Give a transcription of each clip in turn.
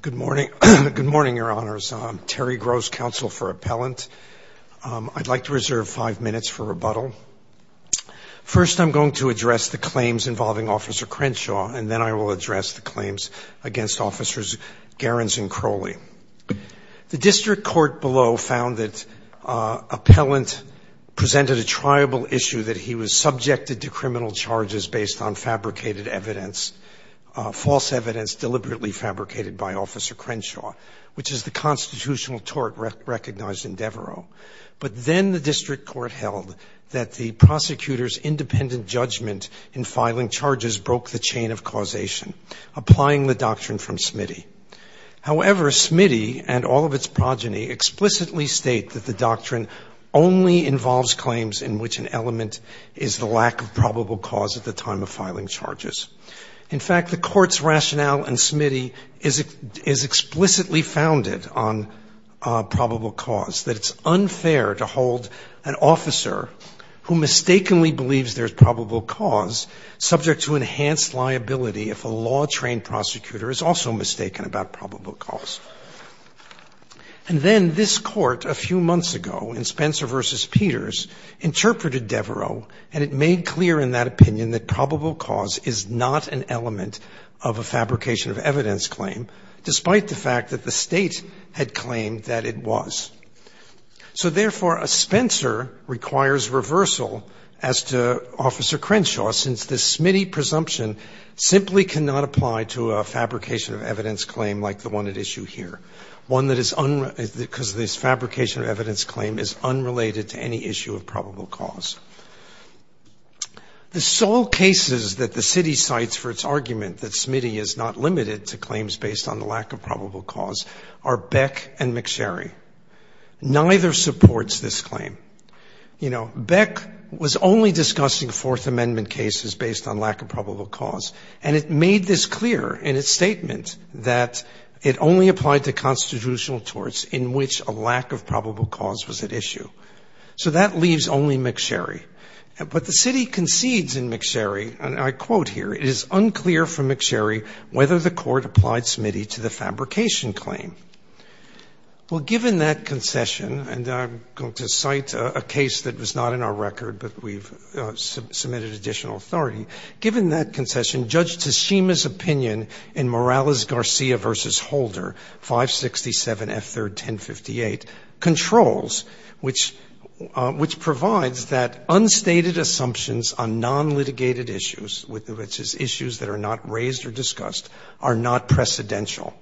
Good morning. Good morning, Your Honors. I'm Terry Gross, Counsel for Appellant. I'd like to reserve five minutes for rebuttal. First, I'm going to address the claims involving Officer Crenshaw, and then I will address the claims against Officers Garens and Crowley. The District Court below found that Appellant presented a triable issue that he was subjected to criminal charges based on fabricated evidence, false evidence deliberately fabricated by Officer Crenshaw, which is the constitutional tort recognized in Devereaux. But then the District Court held that the prosecutor's independent judgment in filing charges broke the chain of causation, applying the doctrine from Smitty. However, Smitty and all of its progeny explicitly state that the doctrine only involves claims in which an element is the lack of probable cause at the time of filing charges. In fact, the Court's rationale in Smitty is explicitly founded on probable cause, that it's unfair to hold an officer who mistakenly believes there's probable cause subject to enhanced liability if a law-trained prosecutor is also mistaken about probable cause. And then this Court a few months ago in Spencer v. Peters interpreted Devereaux, and it made clear in that opinion that probable cause is not an element of a fabrication of evidence claim, despite the fact that the State had claimed that it was. So therefore, a Spencer requires reversal as to Officer Crenshaw, since the Smitty presumption simply cannot apply to a fabrication of evidence claim like the one at issue here, one that is unrelated, because this fabrication of evidence claim is unrelated to any issue of probable cause. The sole cases that the City cites for its argument that Smitty is not limited to claims based on the lack of probable cause are Beck and McSherry. Neither supports this claim. You know, Beck was only discussing Fourth Amendment cases based on lack of probable cause, and it made this clear in its statement that it only applied to constitutional torts in which a lack of probable cause was at issue. So that leaves only McSherry. But the City concedes in McSherry, and I quote here, it is unclear from McSherry whether the Court applied Smitty to the fabrication claim. Well, given that concession, and I'm going to cite a case that was not in our record, but we've submitted additional authority, given that concession, Judge Teshima's opinion in Morales-Garcia v. Holder, 567 F3rd 1058, controls, which provides that unstated assumptions on non-litigated issues, which is issues that are not raised or discussed, are not precedential.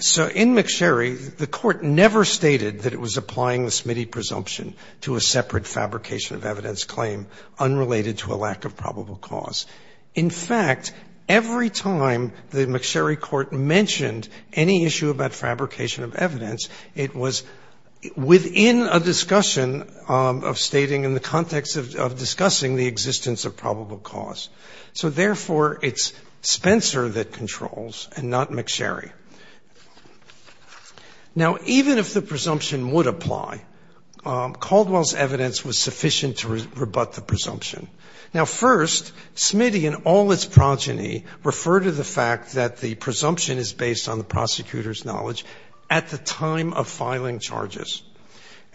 So in McSherry, the Court never stated that it was applying the Smitty presumption to a separate fabrication of evidence claim unrelated to a lack of probable cause. In fact, every time the McSherry Court mentioned any issue about fabrication of evidence, it was within a discussion of stating in the context of discussing the existence of probable cause. So therefore, it's Spencer that controls and not McSherry. Now, even if the presumption would apply, Caldwell's evidence was sufficient to rebut the presumption. Now, first, Smitty and all its progeny refer to the fact that the presumption is based on the prosecutor's knowledge at the time of filing charges.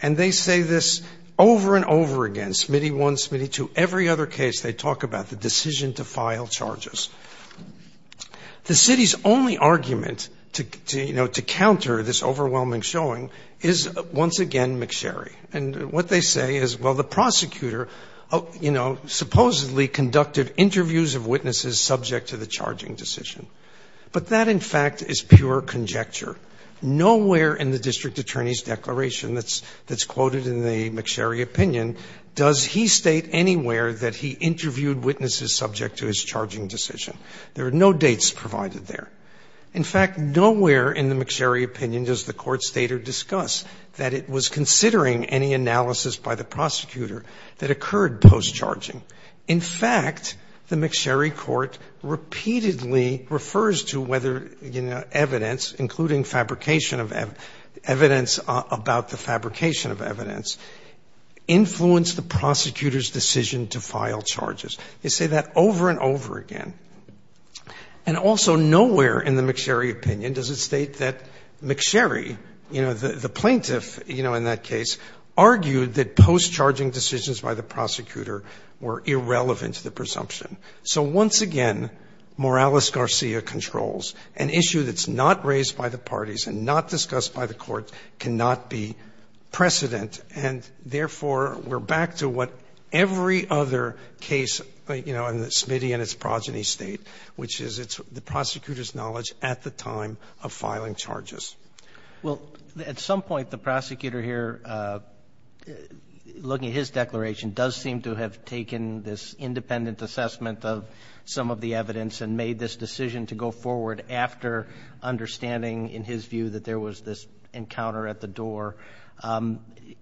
And they say this over and over again, Smitty 1, Smitty 2, every other case they talk about, the decision to file charges. The city's only argument to, you know, to counter this overwhelming showing is once again McSherry. And what they say is, well, the prosecutor, you know, supposedly conducted interviews of witnesses subject to the charging decision. But that, in fact, is pure conjecture. Nowhere in the district attorney's declaration that's quoted in the McSherry opinion does he state anywhere that he interviewed witnesses subject to his charging decision. There are no dates provided there. In fact, nowhere in the McSherry opinion does the Court state or discuss that it was in fact the McSherry court repeatedly refers to whether, you know, evidence, including fabrication of evidence about the fabrication of evidence, influenced the prosecutor's decision to file charges. They say that over and over again. And also nowhere in the McSherry opinion does it state that McSherry, you know, the plaintiff, you know, in that case, argued that post-charging decisions by the prosecutor were irrelevant to the presumption. So once again, Morales-Garcia controls. An issue that's not raised by the parties and not discussed by the courts cannot be precedent. And therefore, we're back to what every other case, you know, in the Smitty and its progeny State, which is the prosecutor's knowledge at the time of filing charges. Well, at some point the prosecutor here, looking at his declaration, does seem to have taken this independent assessment of some of the evidence and made this decision to go forward after understanding, in his view, that there was this encounter at the door.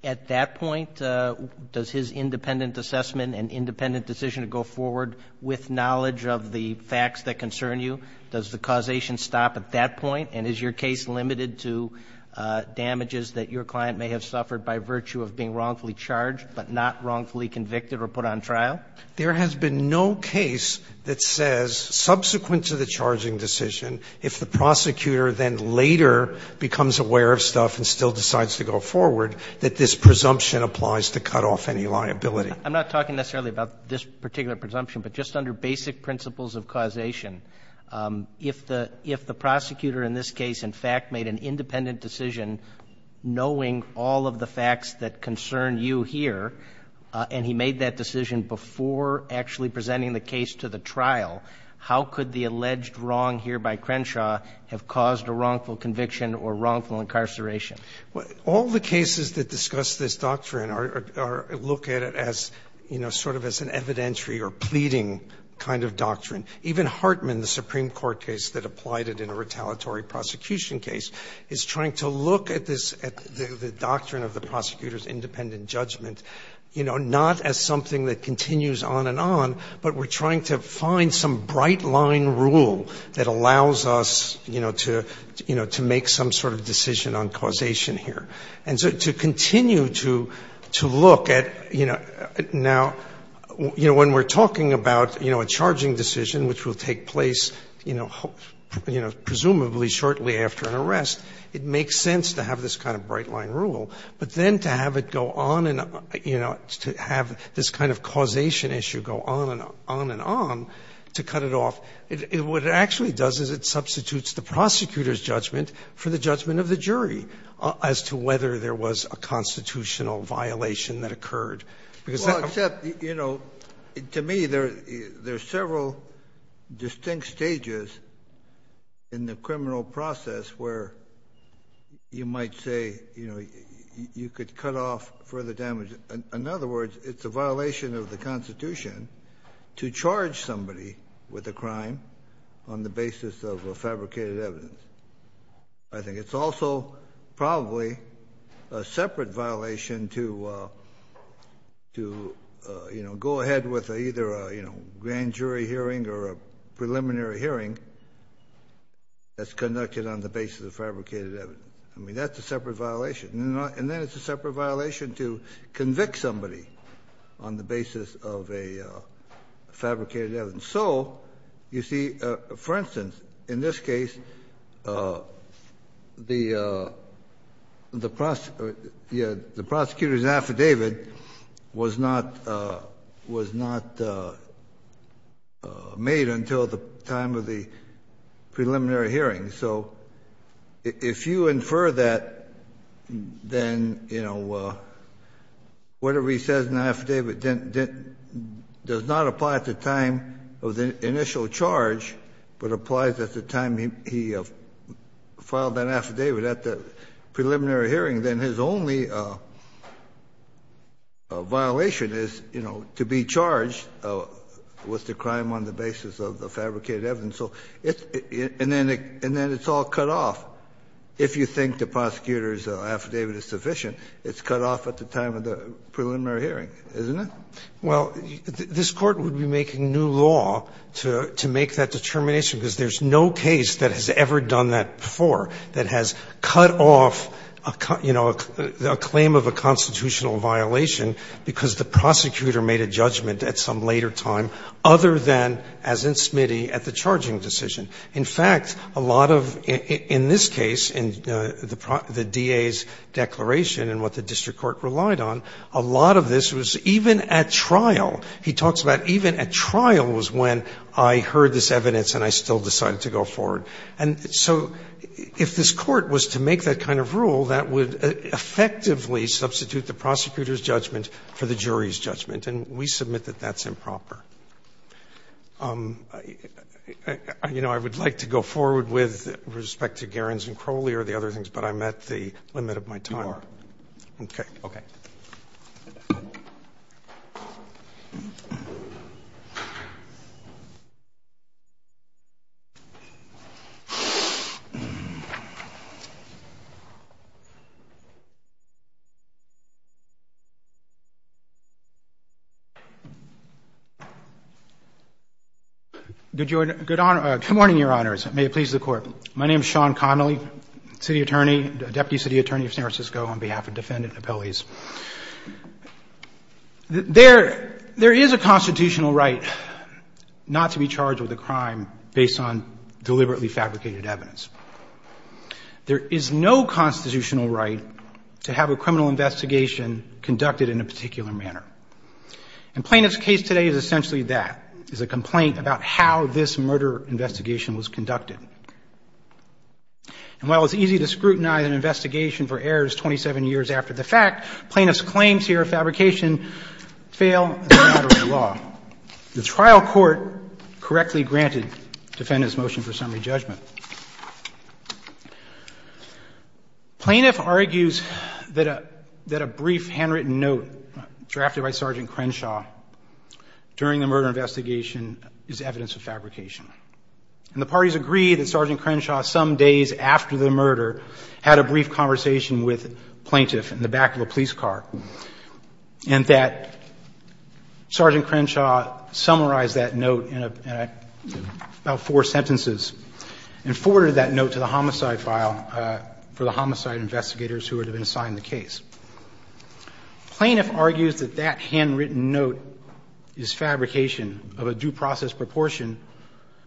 At that point, does his independent assessment and independent decision to go forward with knowledge of the facts that concern you, does the causation stop at that point? And is your case limited to damages that your client may have suffered by virtue of being wrongfully charged but not wrongfully convicted or put on trial? There has been no case that says, subsequent to the charging decision, if the prosecutor then later becomes aware of stuff and still decides to go forward, that this presumption applies to cut off any liability. I'm not talking necessarily about this particular presumption, but just under basic principles of causation, if the prosecutor in this case, in fact, made an independent decision knowing all of the facts that concern you here, and he made that decision before actually presenting the case to the trial, how could the alleged wrong here by Crenshaw have caused a wrongful conviction or wrongful incarceration? All the cases that discuss this doctrine look at it as, you know, sort of as an evidentiary or pleading kind of doctrine. Even Hartman, the Supreme Court case that applied it in a retaliatory prosecution case, is trying to look at this, at the doctrine of the prosecutor's independent judgment, you know, not as something that continues on and on, but we're trying to find some bright-line rule that allows us, you know, to make some sort of decision on causation here. And so to continue to look at, you know, now when we're talking about, you know, a charging decision which will take place, you know, presumably shortly after an arrest, it makes sense to have this kind of bright-line rule. But then to have it go on and, you know, to have this kind of causation issue go on and on to cut it off, what it actually does is it substitutes the prosecutor's jury as to whether there was a constitutional violation that occurred. Well, except, you know, to me there's several distinct stages in the criminal process where you might say, you know, you could cut off further damage. In other words, it's a violation of the Constitution to charge somebody with a crime on the basis of a fabricated evidence. I think it's also probably a separate violation to, you know, go ahead with either a, you know, grand jury hearing or a preliminary hearing that's conducted on the basis of fabricated evidence. I mean, that's a separate violation. And then it's a separate violation to convict somebody on the basis of a fabricated evidence. And so, you see, for instance, in this case, the prosecutor's affidavit was not made until the time of the preliminary hearing. So if you infer that, then, you know, whatever he says in the affidavit does not apply at the time of the initial charge, but applies at the time he filed that affidavit at the preliminary hearing, then his only violation is, you know, to be charged with the crime on the basis of the fabricated evidence. And then it's all cut off. If you think the prosecutor's affidavit is sufficient, it's cut off at the time of the preliminary hearing, isn't it? Well, this Court would be making new law to make that determination, because there's no case that has ever done that before, that has cut off, you know, a claim of a constitutional violation because the prosecutor made a judgment at some later time other than, as in Smitty, at the charging decision. In fact, a lot of, in this case, in the DA's declaration and what the district court relied on, a lot of this was even at trial. He talks about even at trial was when I heard this evidence and I still decided to go forward. And so if this Court was to make that kind of rule, that would effectively substitute the prosecutor's judgment for the jury's judgment, and we submit that that's improper. You know, I would like to go forward with respect to Gerens and Crowley or the other things, but I'm at the limit of my time. Good morning, Your Honors. May it please the Court. My name is Sean Connolly, city attorney, deputy city attorney of San Francisco on behalf of defendant and appellees. There is a constitutional right not to be charged with a crime based on deliberately fabricated evidence. There is no constitutional right to have a criminal investigation conducted in a particular manner. And plaintiff's case today is essentially that, is a complaint about how this murder investigation was conducted. And while it's easy to scrutinize an investigation for errors 27 years after the fact, plaintiff's claims here of fabrication fail in the matter of law. The trial court correctly granted defendant's motion for summary judgment. Plaintiff argues that a brief handwritten note drafted by Sergeant Crenshaw during the murder investigation is evidence of fabrication. And the parties agree that Sergeant Crenshaw some days after the murder had a brief conversation with plaintiff in the back of a police car and that Sergeant Crenshaw summarized that note in about four sentences and forwarded that note to the homicide file for the homicide investigators who would have been assigned the case. Plaintiff argues that that handwritten note is fabrication of a due process proportion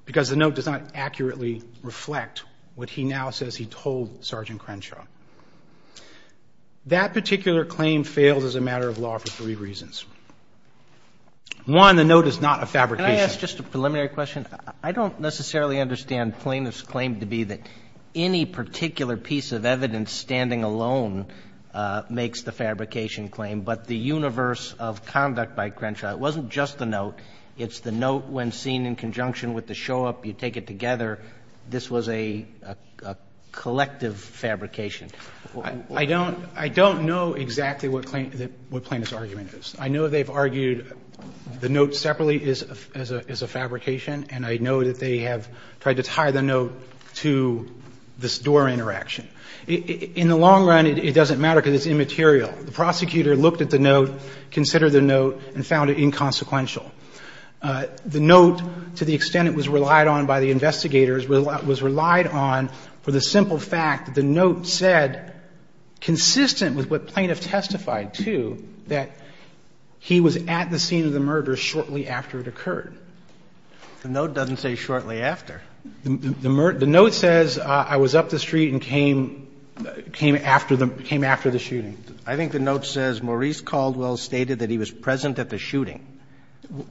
because the note does not accurately reflect what he now says he told Sergeant Crenshaw. That particular claim fails as a matter of law for three reasons. One, the note is not a fabrication. Can I ask just a preliminary question? I don't necessarily understand plaintiff's claim to be that any particular piece of evidence standing alone makes the fabrication claim. But the universe of conduct by Crenshaw, it wasn't just the note. It's the note when seen in conjunction with the show-up, you take it together. This was a collective fabrication. I don't know exactly what plaintiff's argument is. I know they've argued the note separately is a fabrication, and I know that they have tried to tie the note to this door interaction. In the long run, it doesn't matter because it's immaterial. The prosecutor looked at the note, considered the note, and found it inconsequential. The note, to the extent it was relied on by the investigators, was relied on for the simple fact that the note said, consistent with what plaintiff testified to, that he was at the scene of the murder shortly after it occurred. The note doesn't say shortly after. The note says I was up the street and came after the shooting. I think the note says Maurice Caldwell stated that he was present at the shooting.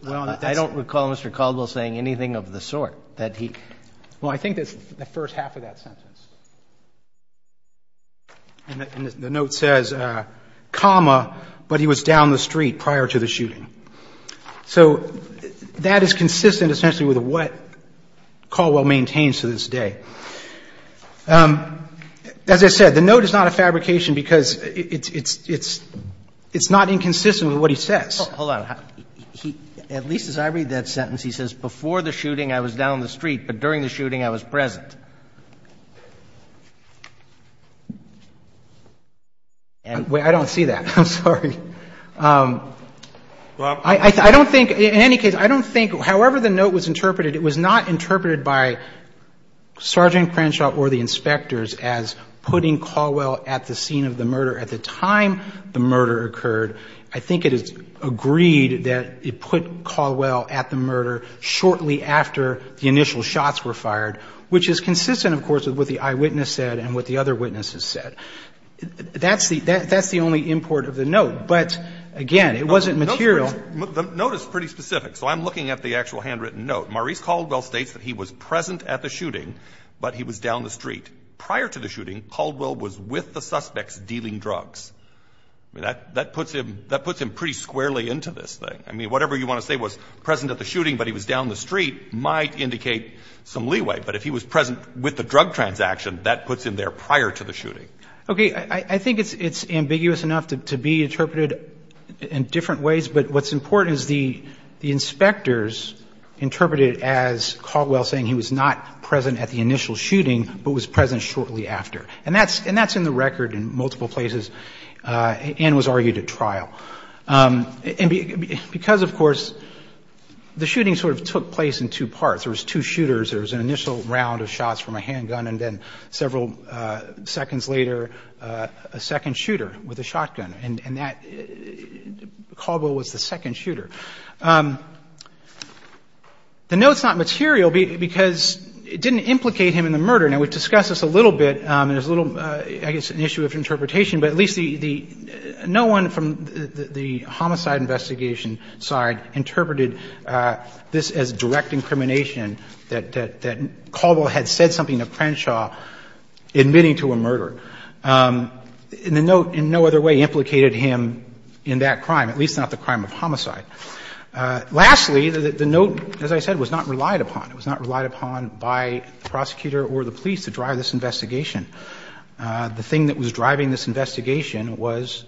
I don't recall Mr. Caldwell saying anything of the sort that he – Well, I think that's the first half of that sentence. And the note says, comma, but he was down the street prior to the shooting. So that is consistent essentially with what Caldwell maintains to this day. As I said, the note is not a fabrication because it's not inconsistent with what he says. Hold on. At least as I read that sentence, he says, before the shooting I was down the street, but during the shooting I was present. I don't see that. I'm sorry. I don't think, in any case, I don't think, however the note was interpreted, it was not interpreted by Sergeant Crenshaw or the inspectors as putting Caldwell at the scene of the murder at the time the murder occurred. I think it is agreed that it put Caldwell at the murder shortly after the initial shots were fired, which is consistent, of course, with what the eyewitness said and what the other witnesses said. That's the only import of the note. But, again, it wasn't material. The note is pretty specific. So I'm looking at the actual handwritten note. Maurice Caldwell states that he was present at the shooting, but he was down the street. Prior to the shooting, Caldwell was with the suspects dealing drugs. That puts him pretty squarely into this thing. I mean, whatever you want to say was present at the shooting, but he was down the street, might indicate some leeway. But if he was present with the drug transaction, that puts him there prior to the shooting. Okay. I think it's ambiguous enough to be interpreted in different ways. But what's important is the inspectors interpreted it as Caldwell saying he was not present at the initial shooting, but was present shortly after. And that's in the record in multiple places and was argued at trial. And because, of course, the shooting sort of took place in two parts. There was two shooters. There was an initial round of shots from a handgun, and then several seconds later, a second shooter with a shotgun. And Caldwell was the second shooter. The note's not material because it didn't implicate him in the murder. Now, we've discussed this a little bit, and there's a little, I guess, an issue of interpretation, but at least the no one from the homicide investigation side interpreted this as direct incrimination, that Caldwell had said something to Crenshaw admitting to a murder. And the note in no other way implicated him in that crime, at least not the crime of homicide. Lastly, the note, as I said, was not relied upon. It was not relied upon by the prosecutor or the police to drive this investigation. The thing that was driving this investigation was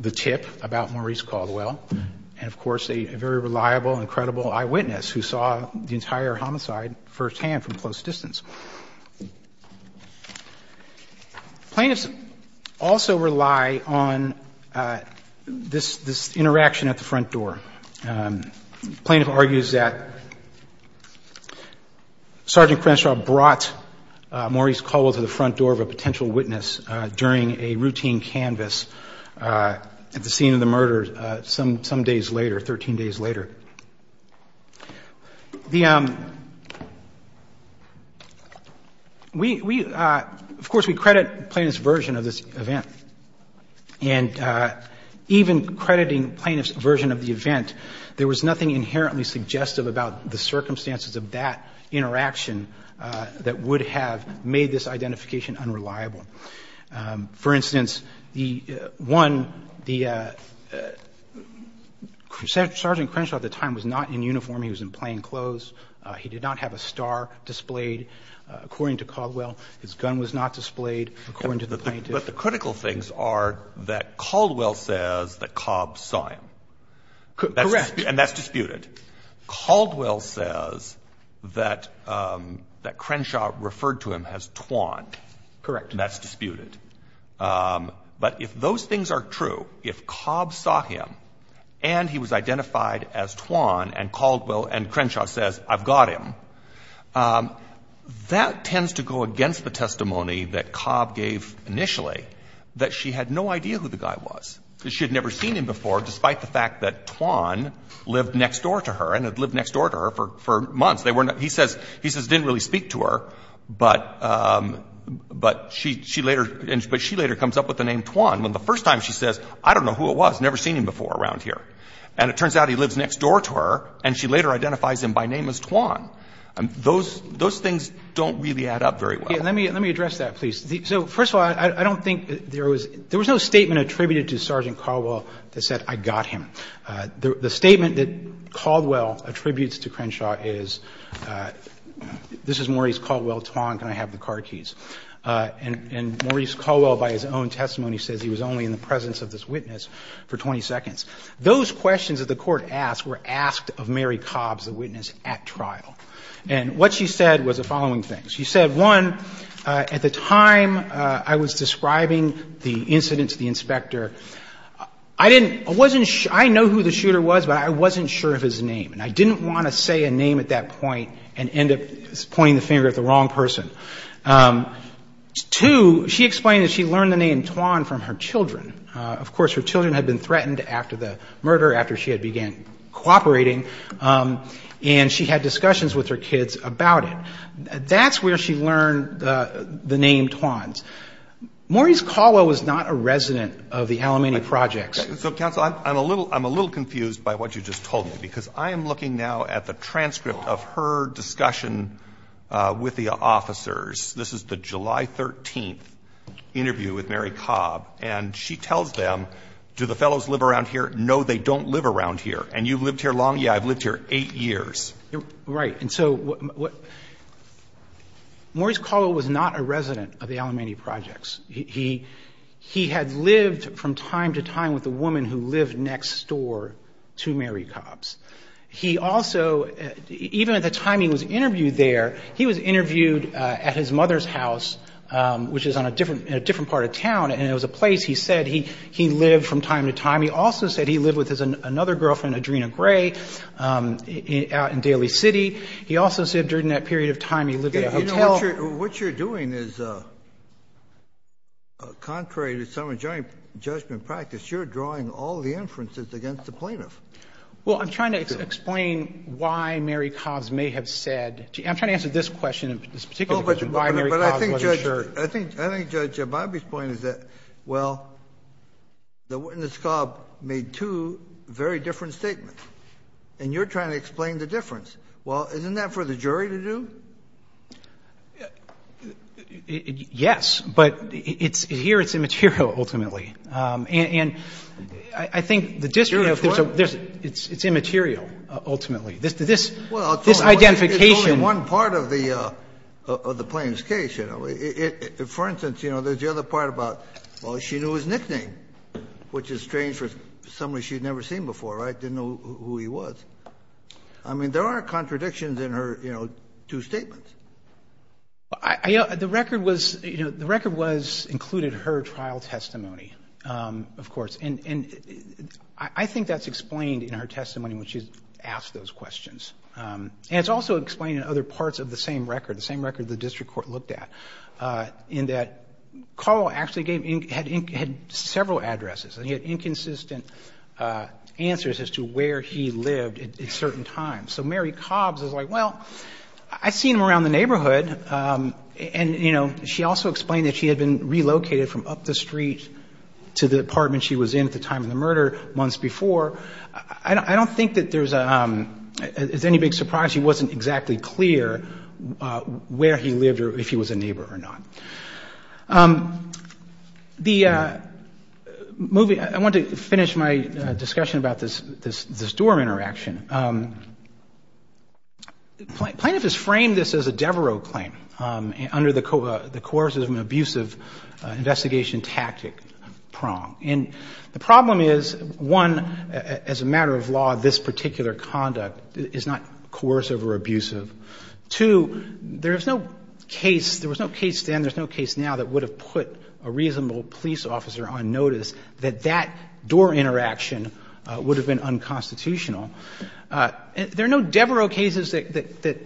the tip about Maurice Caldwell and, of course, a very reliable and credible eyewitness who saw the entire homicide firsthand from close distance. Plaintiffs also rely on this interaction at the front door. Plaintiff argues that Sergeant Crenshaw brought Maurice Caldwell to the front door of a potential witness during a routine canvas at the scene of the murder some days later, 13 days later. Of course, we credit plaintiff's version of this event. And even crediting plaintiff's version of the event, there was nothing inherently suggestive about the circumstances of that interaction that would have made this identification unreliable. For instance, one, Sergeant Crenshaw at the time was not in uniform. He was in plain clothes. He did not have a star displayed. According to Caldwell, his gun was not displayed, according to the plaintiff. But the critical things are that Caldwell says that Cobb saw him. Correct. And that's disputed. Caldwell says that Crenshaw referred to him as Twan. Correct. And that's disputed. But if those things are true, if Cobb saw him and he was identified as Twan and Caldwell and Crenshaw says, I've got him, that tends to go against the testimony that Cobb gave initially, that she had no idea who the guy was. She had never seen him before, despite the fact that Twan lived next door to her and had lived next door to her for months. He says he didn't really speak to her, but she later comes up with the name Twan when the first time she says, I don't know who it was, never seen him before around here. And it turns out he lives next door to her, and she later identifies him by name as Twan. Those things don't really add up very well. Let me address that, please. So, first of all, I don't think there was no statement attributed to Sergeant Caldwell that said, I got him. The statement that Caldwell attributes to Crenshaw is, this is Maurice Caldwell, Twan, can I have the card keys? And Maurice Caldwell, by his own testimony, says he was only in the presence of this witness for 20 seconds. Those questions that the Court asked were asked of Mary Cobb, the witness at trial. And what she said was the following things. She said, one, at the time I was describing the incident to the inspector, I didn't – I wasn't – I know who the shooter was, but I wasn't sure of his name. And I didn't want to say a name at that point and end up pointing the finger at the wrong person. Two, she explained that she learned the name Twan from her children. Of course, her children had been threatened after the murder, after she had began cooperating. And she had discussions with her kids about it. That's where she learned the name Twan. Maurice Caldwell was not a resident of the Alamany Projects. So, counsel, I'm a little – I'm a little confused by what you just told me, because I am looking now at the transcript of her discussion with the officers. This is the July 13th interview with Mary Cobb. And she tells them, do the fellows live around here? No, they don't live around here. And you've lived here long? Yeah, I've lived here 8 years. Right. And so what – Maurice Caldwell was not a resident of the Alamany Projects. He had lived from time to time with a woman who lived next door to Mary Cobb's. He also – even at the time he was interviewed there, he was interviewed at his mother's house, which is on a different – in a different part of town. And it was a place, he said, he lived from time to time. He also said he lived with his – another girlfriend, Adrena Gray, out in Daly City. He also said during that period of time he lived at a hotel. You know, what you're doing is contrary to some adjoining judgment practice. You're drawing all the inferences against the plaintiff. Well, I'm trying to explain why Mary Cobb's may have said – I'm trying to answer this question, this particular question, why Mary Cobb's wasn't sure. I think, Judge, my point is that, well, the witness, Cobb, made two very different statements, and you're trying to explain the difference. Well, isn't that for the jury to do? Yes, but it's – here it's immaterial, ultimately. And I think the district – It's what? It's immaterial, ultimately. This identification – For instance, you know, there's the other part about, well, she knew his nickname, which is strange for somebody she had never seen before, right, didn't know who he was. I mean, there are contradictions in her, you know, two statements. The record was – you know, the record was – included her trial testimony, of course. And I think that's explained in her testimony when she's asked those questions. And it's also explained in other parts of the same record, the same record the district court looked at, in that Carl actually gave – had several addresses, and he had inconsistent answers as to where he lived at certain times. So Mary Cobbs is like, well, I've seen him around the neighborhood. And, you know, she also explained that she had been relocated from up the street to the apartment she was in at the time of the murder months before. I don't think that there's – as any big surprise, she wasn't exactly clear where he lived or if he was a neighbor or not. The movie – I want to finish my discussion about this Doerr interaction. Plaintiff has framed this as a Devereux claim under the coercive and abusive investigation tactic prong. And the problem is, one, as a matter of law, this particular conduct is not coercive or abusive. Two, there is no case – there was no case then, there's no case now that would have put a reasonable police officer on notice that that Doerr interaction would have been unconstitutional. There are no Devereux cases that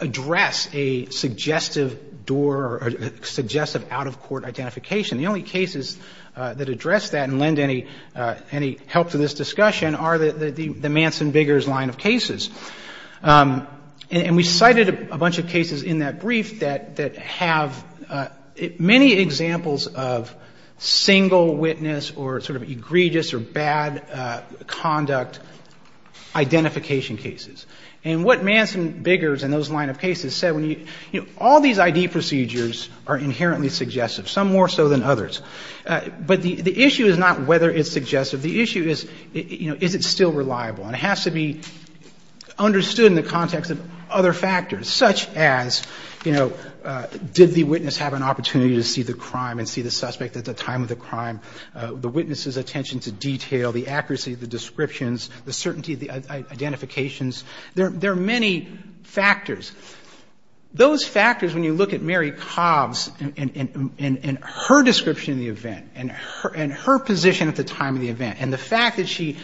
address a suggestive Doerr or suggestive out-of-court identification. The only cases that address that and lend any help to this discussion are the Manson Biggers line of cases. And we cited a bunch of cases in that brief that have many examples of single witness or sort of egregious or bad conduct identification cases. And what Manson Biggers and those line of cases said when you – all these ID procedures are inherently suggestive, some more so than others. But the issue is not whether it's suggestive. The issue is, you know, is it still reliable? And it has to be understood in the context of other factors, such as, you know, did the witness have an opportunity to see the crime and see the suspect at the time of the crime, the witness's attention to detail, the accuracy of the descriptions, the certainty of the identifications. There are many factors. Those factors, when you look at Mary Cobbs and her description of the event and her position at the time of the event and the fact that she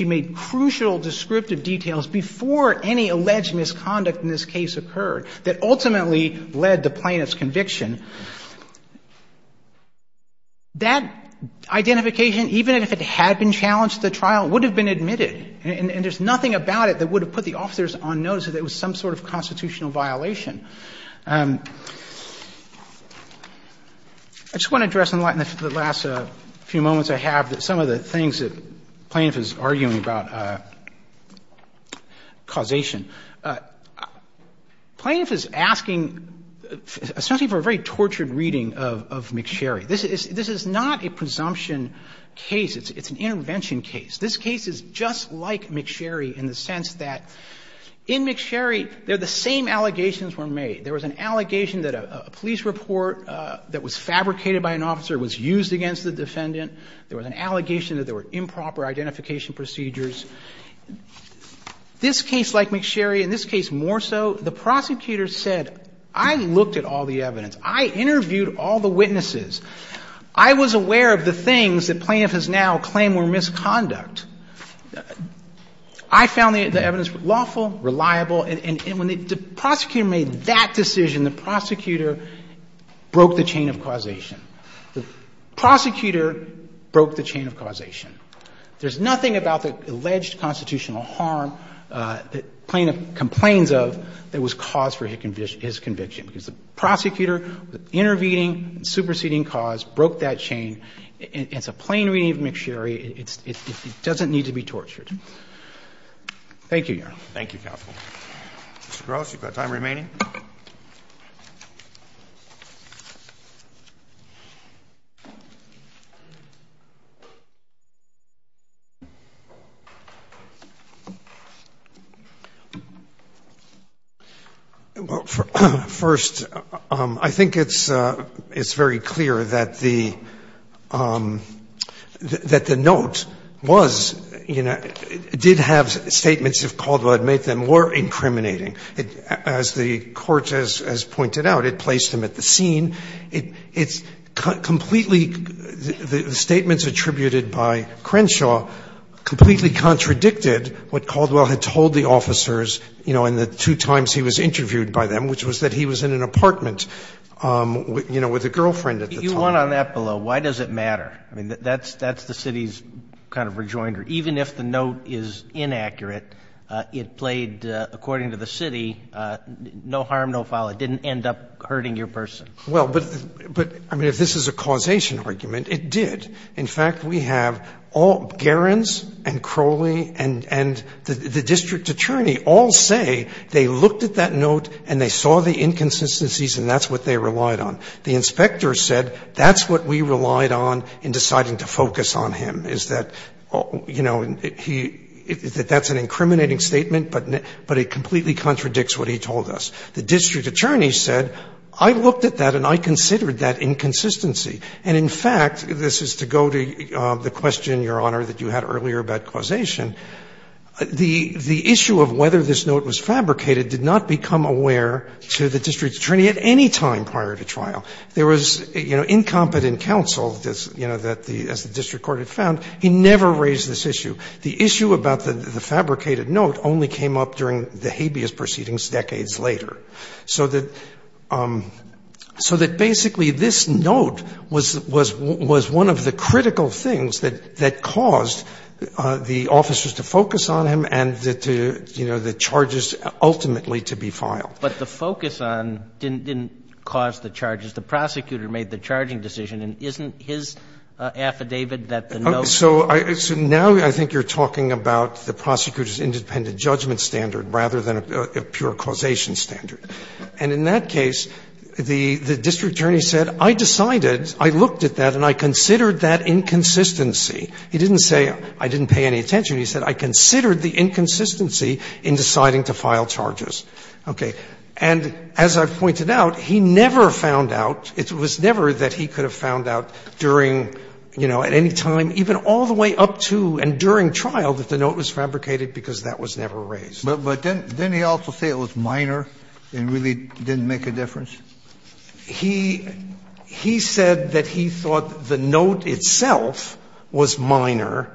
made crucial descriptive details before any alleged misconduct in this case occurred that ultimately led to plaintiff's conviction, that identification, even if it had been challenged at the trial, would have been admitted. And there's nothing about it that would have put the officers on notice that it was some sort of constitutional violation. I just want to address in the last few moments I have that some of the things that plaintiff is arguing about causation. Plaintiff is asking, especially for a very tortured reading of McSherry. This is not a presumption case. It's an intervention case. This case is just like McSherry in the sense that in McSherry there are the same allegations were made. There was an allegation that a police report that was fabricated by an officer was used against the defendant. There was an allegation that there were improper identification procedures. This case like McSherry and this case more so, the prosecutor said, I looked at all the evidence. I interviewed all the witnesses. I was aware of the things that plaintiff has now claimed were misconduct. I found the evidence lawful, reliable. And when the prosecutor made that decision, the prosecutor broke the chain of causation. The prosecutor broke the chain of causation. There's nothing about the alleged constitutional harm that plaintiff complains of that was cause for his conviction, because the prosecutor, the intervening and superseding cause, broke that chain. It's a plain reading of McSherry. It doesn't need to be tortured. Thank you, Your Honor. Roberts. Thank you, counsel. Mr. Gross, you've got time remaining. First, I think it's very clear that the notion that the defendant is guilty of the offense, in the case that I just described, did have statements of Caldwell that made them more incriminating. As the court has pointed out, it placed him at the scene. It's completely the statements attributed by Crenshaw completely contradicted what Caldwell had told the officers in the two times he was interviewed by them, which was that he was in an apartment with a girlfriend at the time. You went on that below. Why does it matter? I mean, that's the city's kind of rejoinder. Even if the note is inaccurate, it played, according to the city, no harm, no foul. It didn't end up hurting your person. Well, but, I mean, if this is a causation argument, it did. In fact, we have all Gerens and Crowley and the district attorney all say they looked at that note and they saw the inconsistencies and that's what they relied on. The inspector said that's what we relied on in deciding to focus on him, is that, you know, he – that that's an incriminating statement, but it completely contradicts what he told us. The district attorney said, I looked at that and I considered that inconsistency. And, in fact, this is to go to the question, Your Honor, that you had earlier about causation, the issue of whether this note was fabricated did not become aware to the district attorney at any time prior to trial. There was, you know, incompetent counsel, you know, that the – as the district court had found. He never raised this issue. The issue about the fabricated note only came up during the habeas proceedings decades later. So that – so that basically this note was one of the critical things that caused the officers to focus on him and to, you know, the charges ultimately to be filed. But the focus on – didn't cause the charges. The prosecutor made the charging decision, and isn't his affidavit that the note was fabricated? So now I think you're talking about the prosecutor's independent judgment standard rather than a pure causation standard. And in that case, the district attorney said, I decided, I looked at that and I considered that inconsistency. He didn't say, I didn't pay any attention. He said, I considered the inconsistency in deciding to file charges. Okay. And as I've pointed out, he never found out – it was never that he could have found out during, you know, at any time, even all the way up to and during trial that the note was fabricated, because that was never raised. But didn't he also say it was minor and really didn't make a difference? He said that he thought the note itself was minor.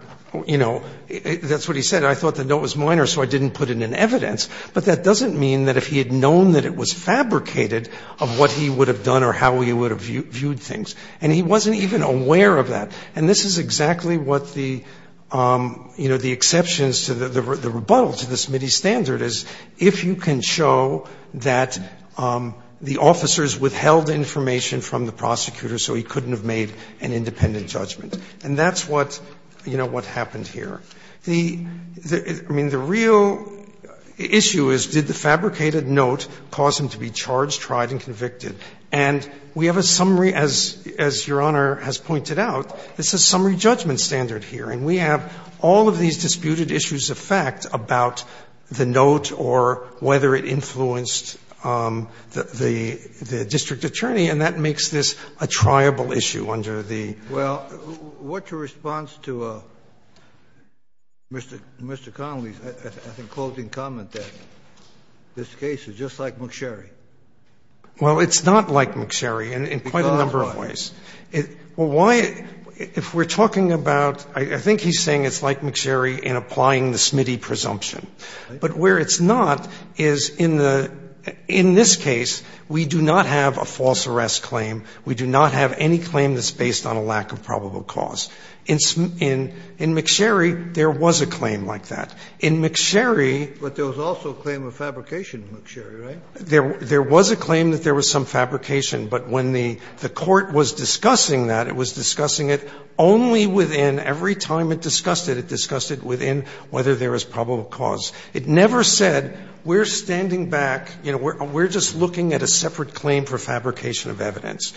You know, that's what he said. I thought the note was minor, so I didn't put it in evidence. But that doesn't mean that if he had known that it was fabricated of what he would have done or how he would have viewed things. And he wasn't even aware of that. And this is exactly what the, you know, the exceptions to the rebuttal to the Smitty standard is, if you can show that the officers withheld information from the prosecutor so he couldn't have made an independent judgment. And that's what, you know, what happened here. The real issue is, did the fabricated note cause him to be charged, tried and convicted? And we have a summary, as Your Honor has pointed out, it's a summary judgment standard here. And we have all of these disputed issues of fact about the note or whether it influenced the district attorney, and that makes this a triable issue under the statute. Kennedy, in your response to Mr. Connolly's, I think, closing comment that this case is just like McSherry. Well, it's not like McSherry in quite a number of ways. Well, why, if we're talking about, I think he's saying it's like McSherry in applying the Smitty presumption. But where it's not is in the, in this case, we do not have a false arrest claim. We do not have any claim that's based on a lack of probable cause. In McSherry, there was a claim like that. In McSherry, there was a claim that there was some fabrication, but when the court was discussing that, it was discussing it only within, every time it discussed it, it discussed it within whether there was probable cause. It never said we're standing back, you know, we're just looking at a separate claim for fabrication of evidence,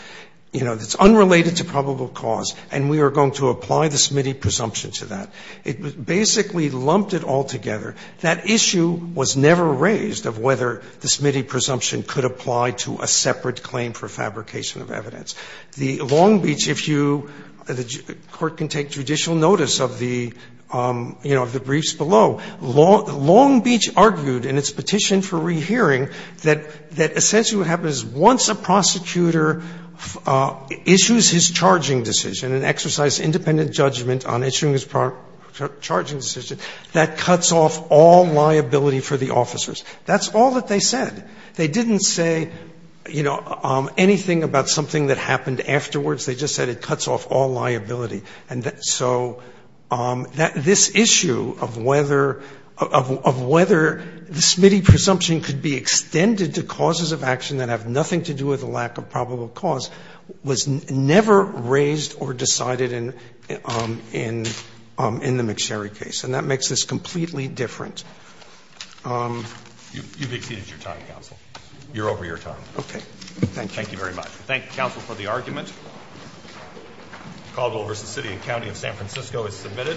you know, that's unrelated to probable cause, and we are going to apply the Smitty presumption to that. It basically lumped it all together. That issue was never raised of whether the Smitty presumption could apply to a separate claim for fabrication of evidence. The Long Beach, if you, the Court can take judicial notice of the, you know, of the briefs below. It was once a prosecutor issues his charging decision, an exercise independent judgment on issuing his charging decision, that cuts off all liability for the officers. That's all that they said. They didn't say, you know, anything about something that happened afterwards. They just said it cuts off all liability. And so this issue of whether, of whether the Smitty presumption could be extended to causes of action that have nothing to do with a lack of probable cause was never raised or decided in the McSherry case, and that makes this completely different. You've exceeded your time, counsel. You're over your time. Okay. Thank you. Thank you very much. We thank counsel for the argument. The call to order for the City and County of San Francisco is submitted.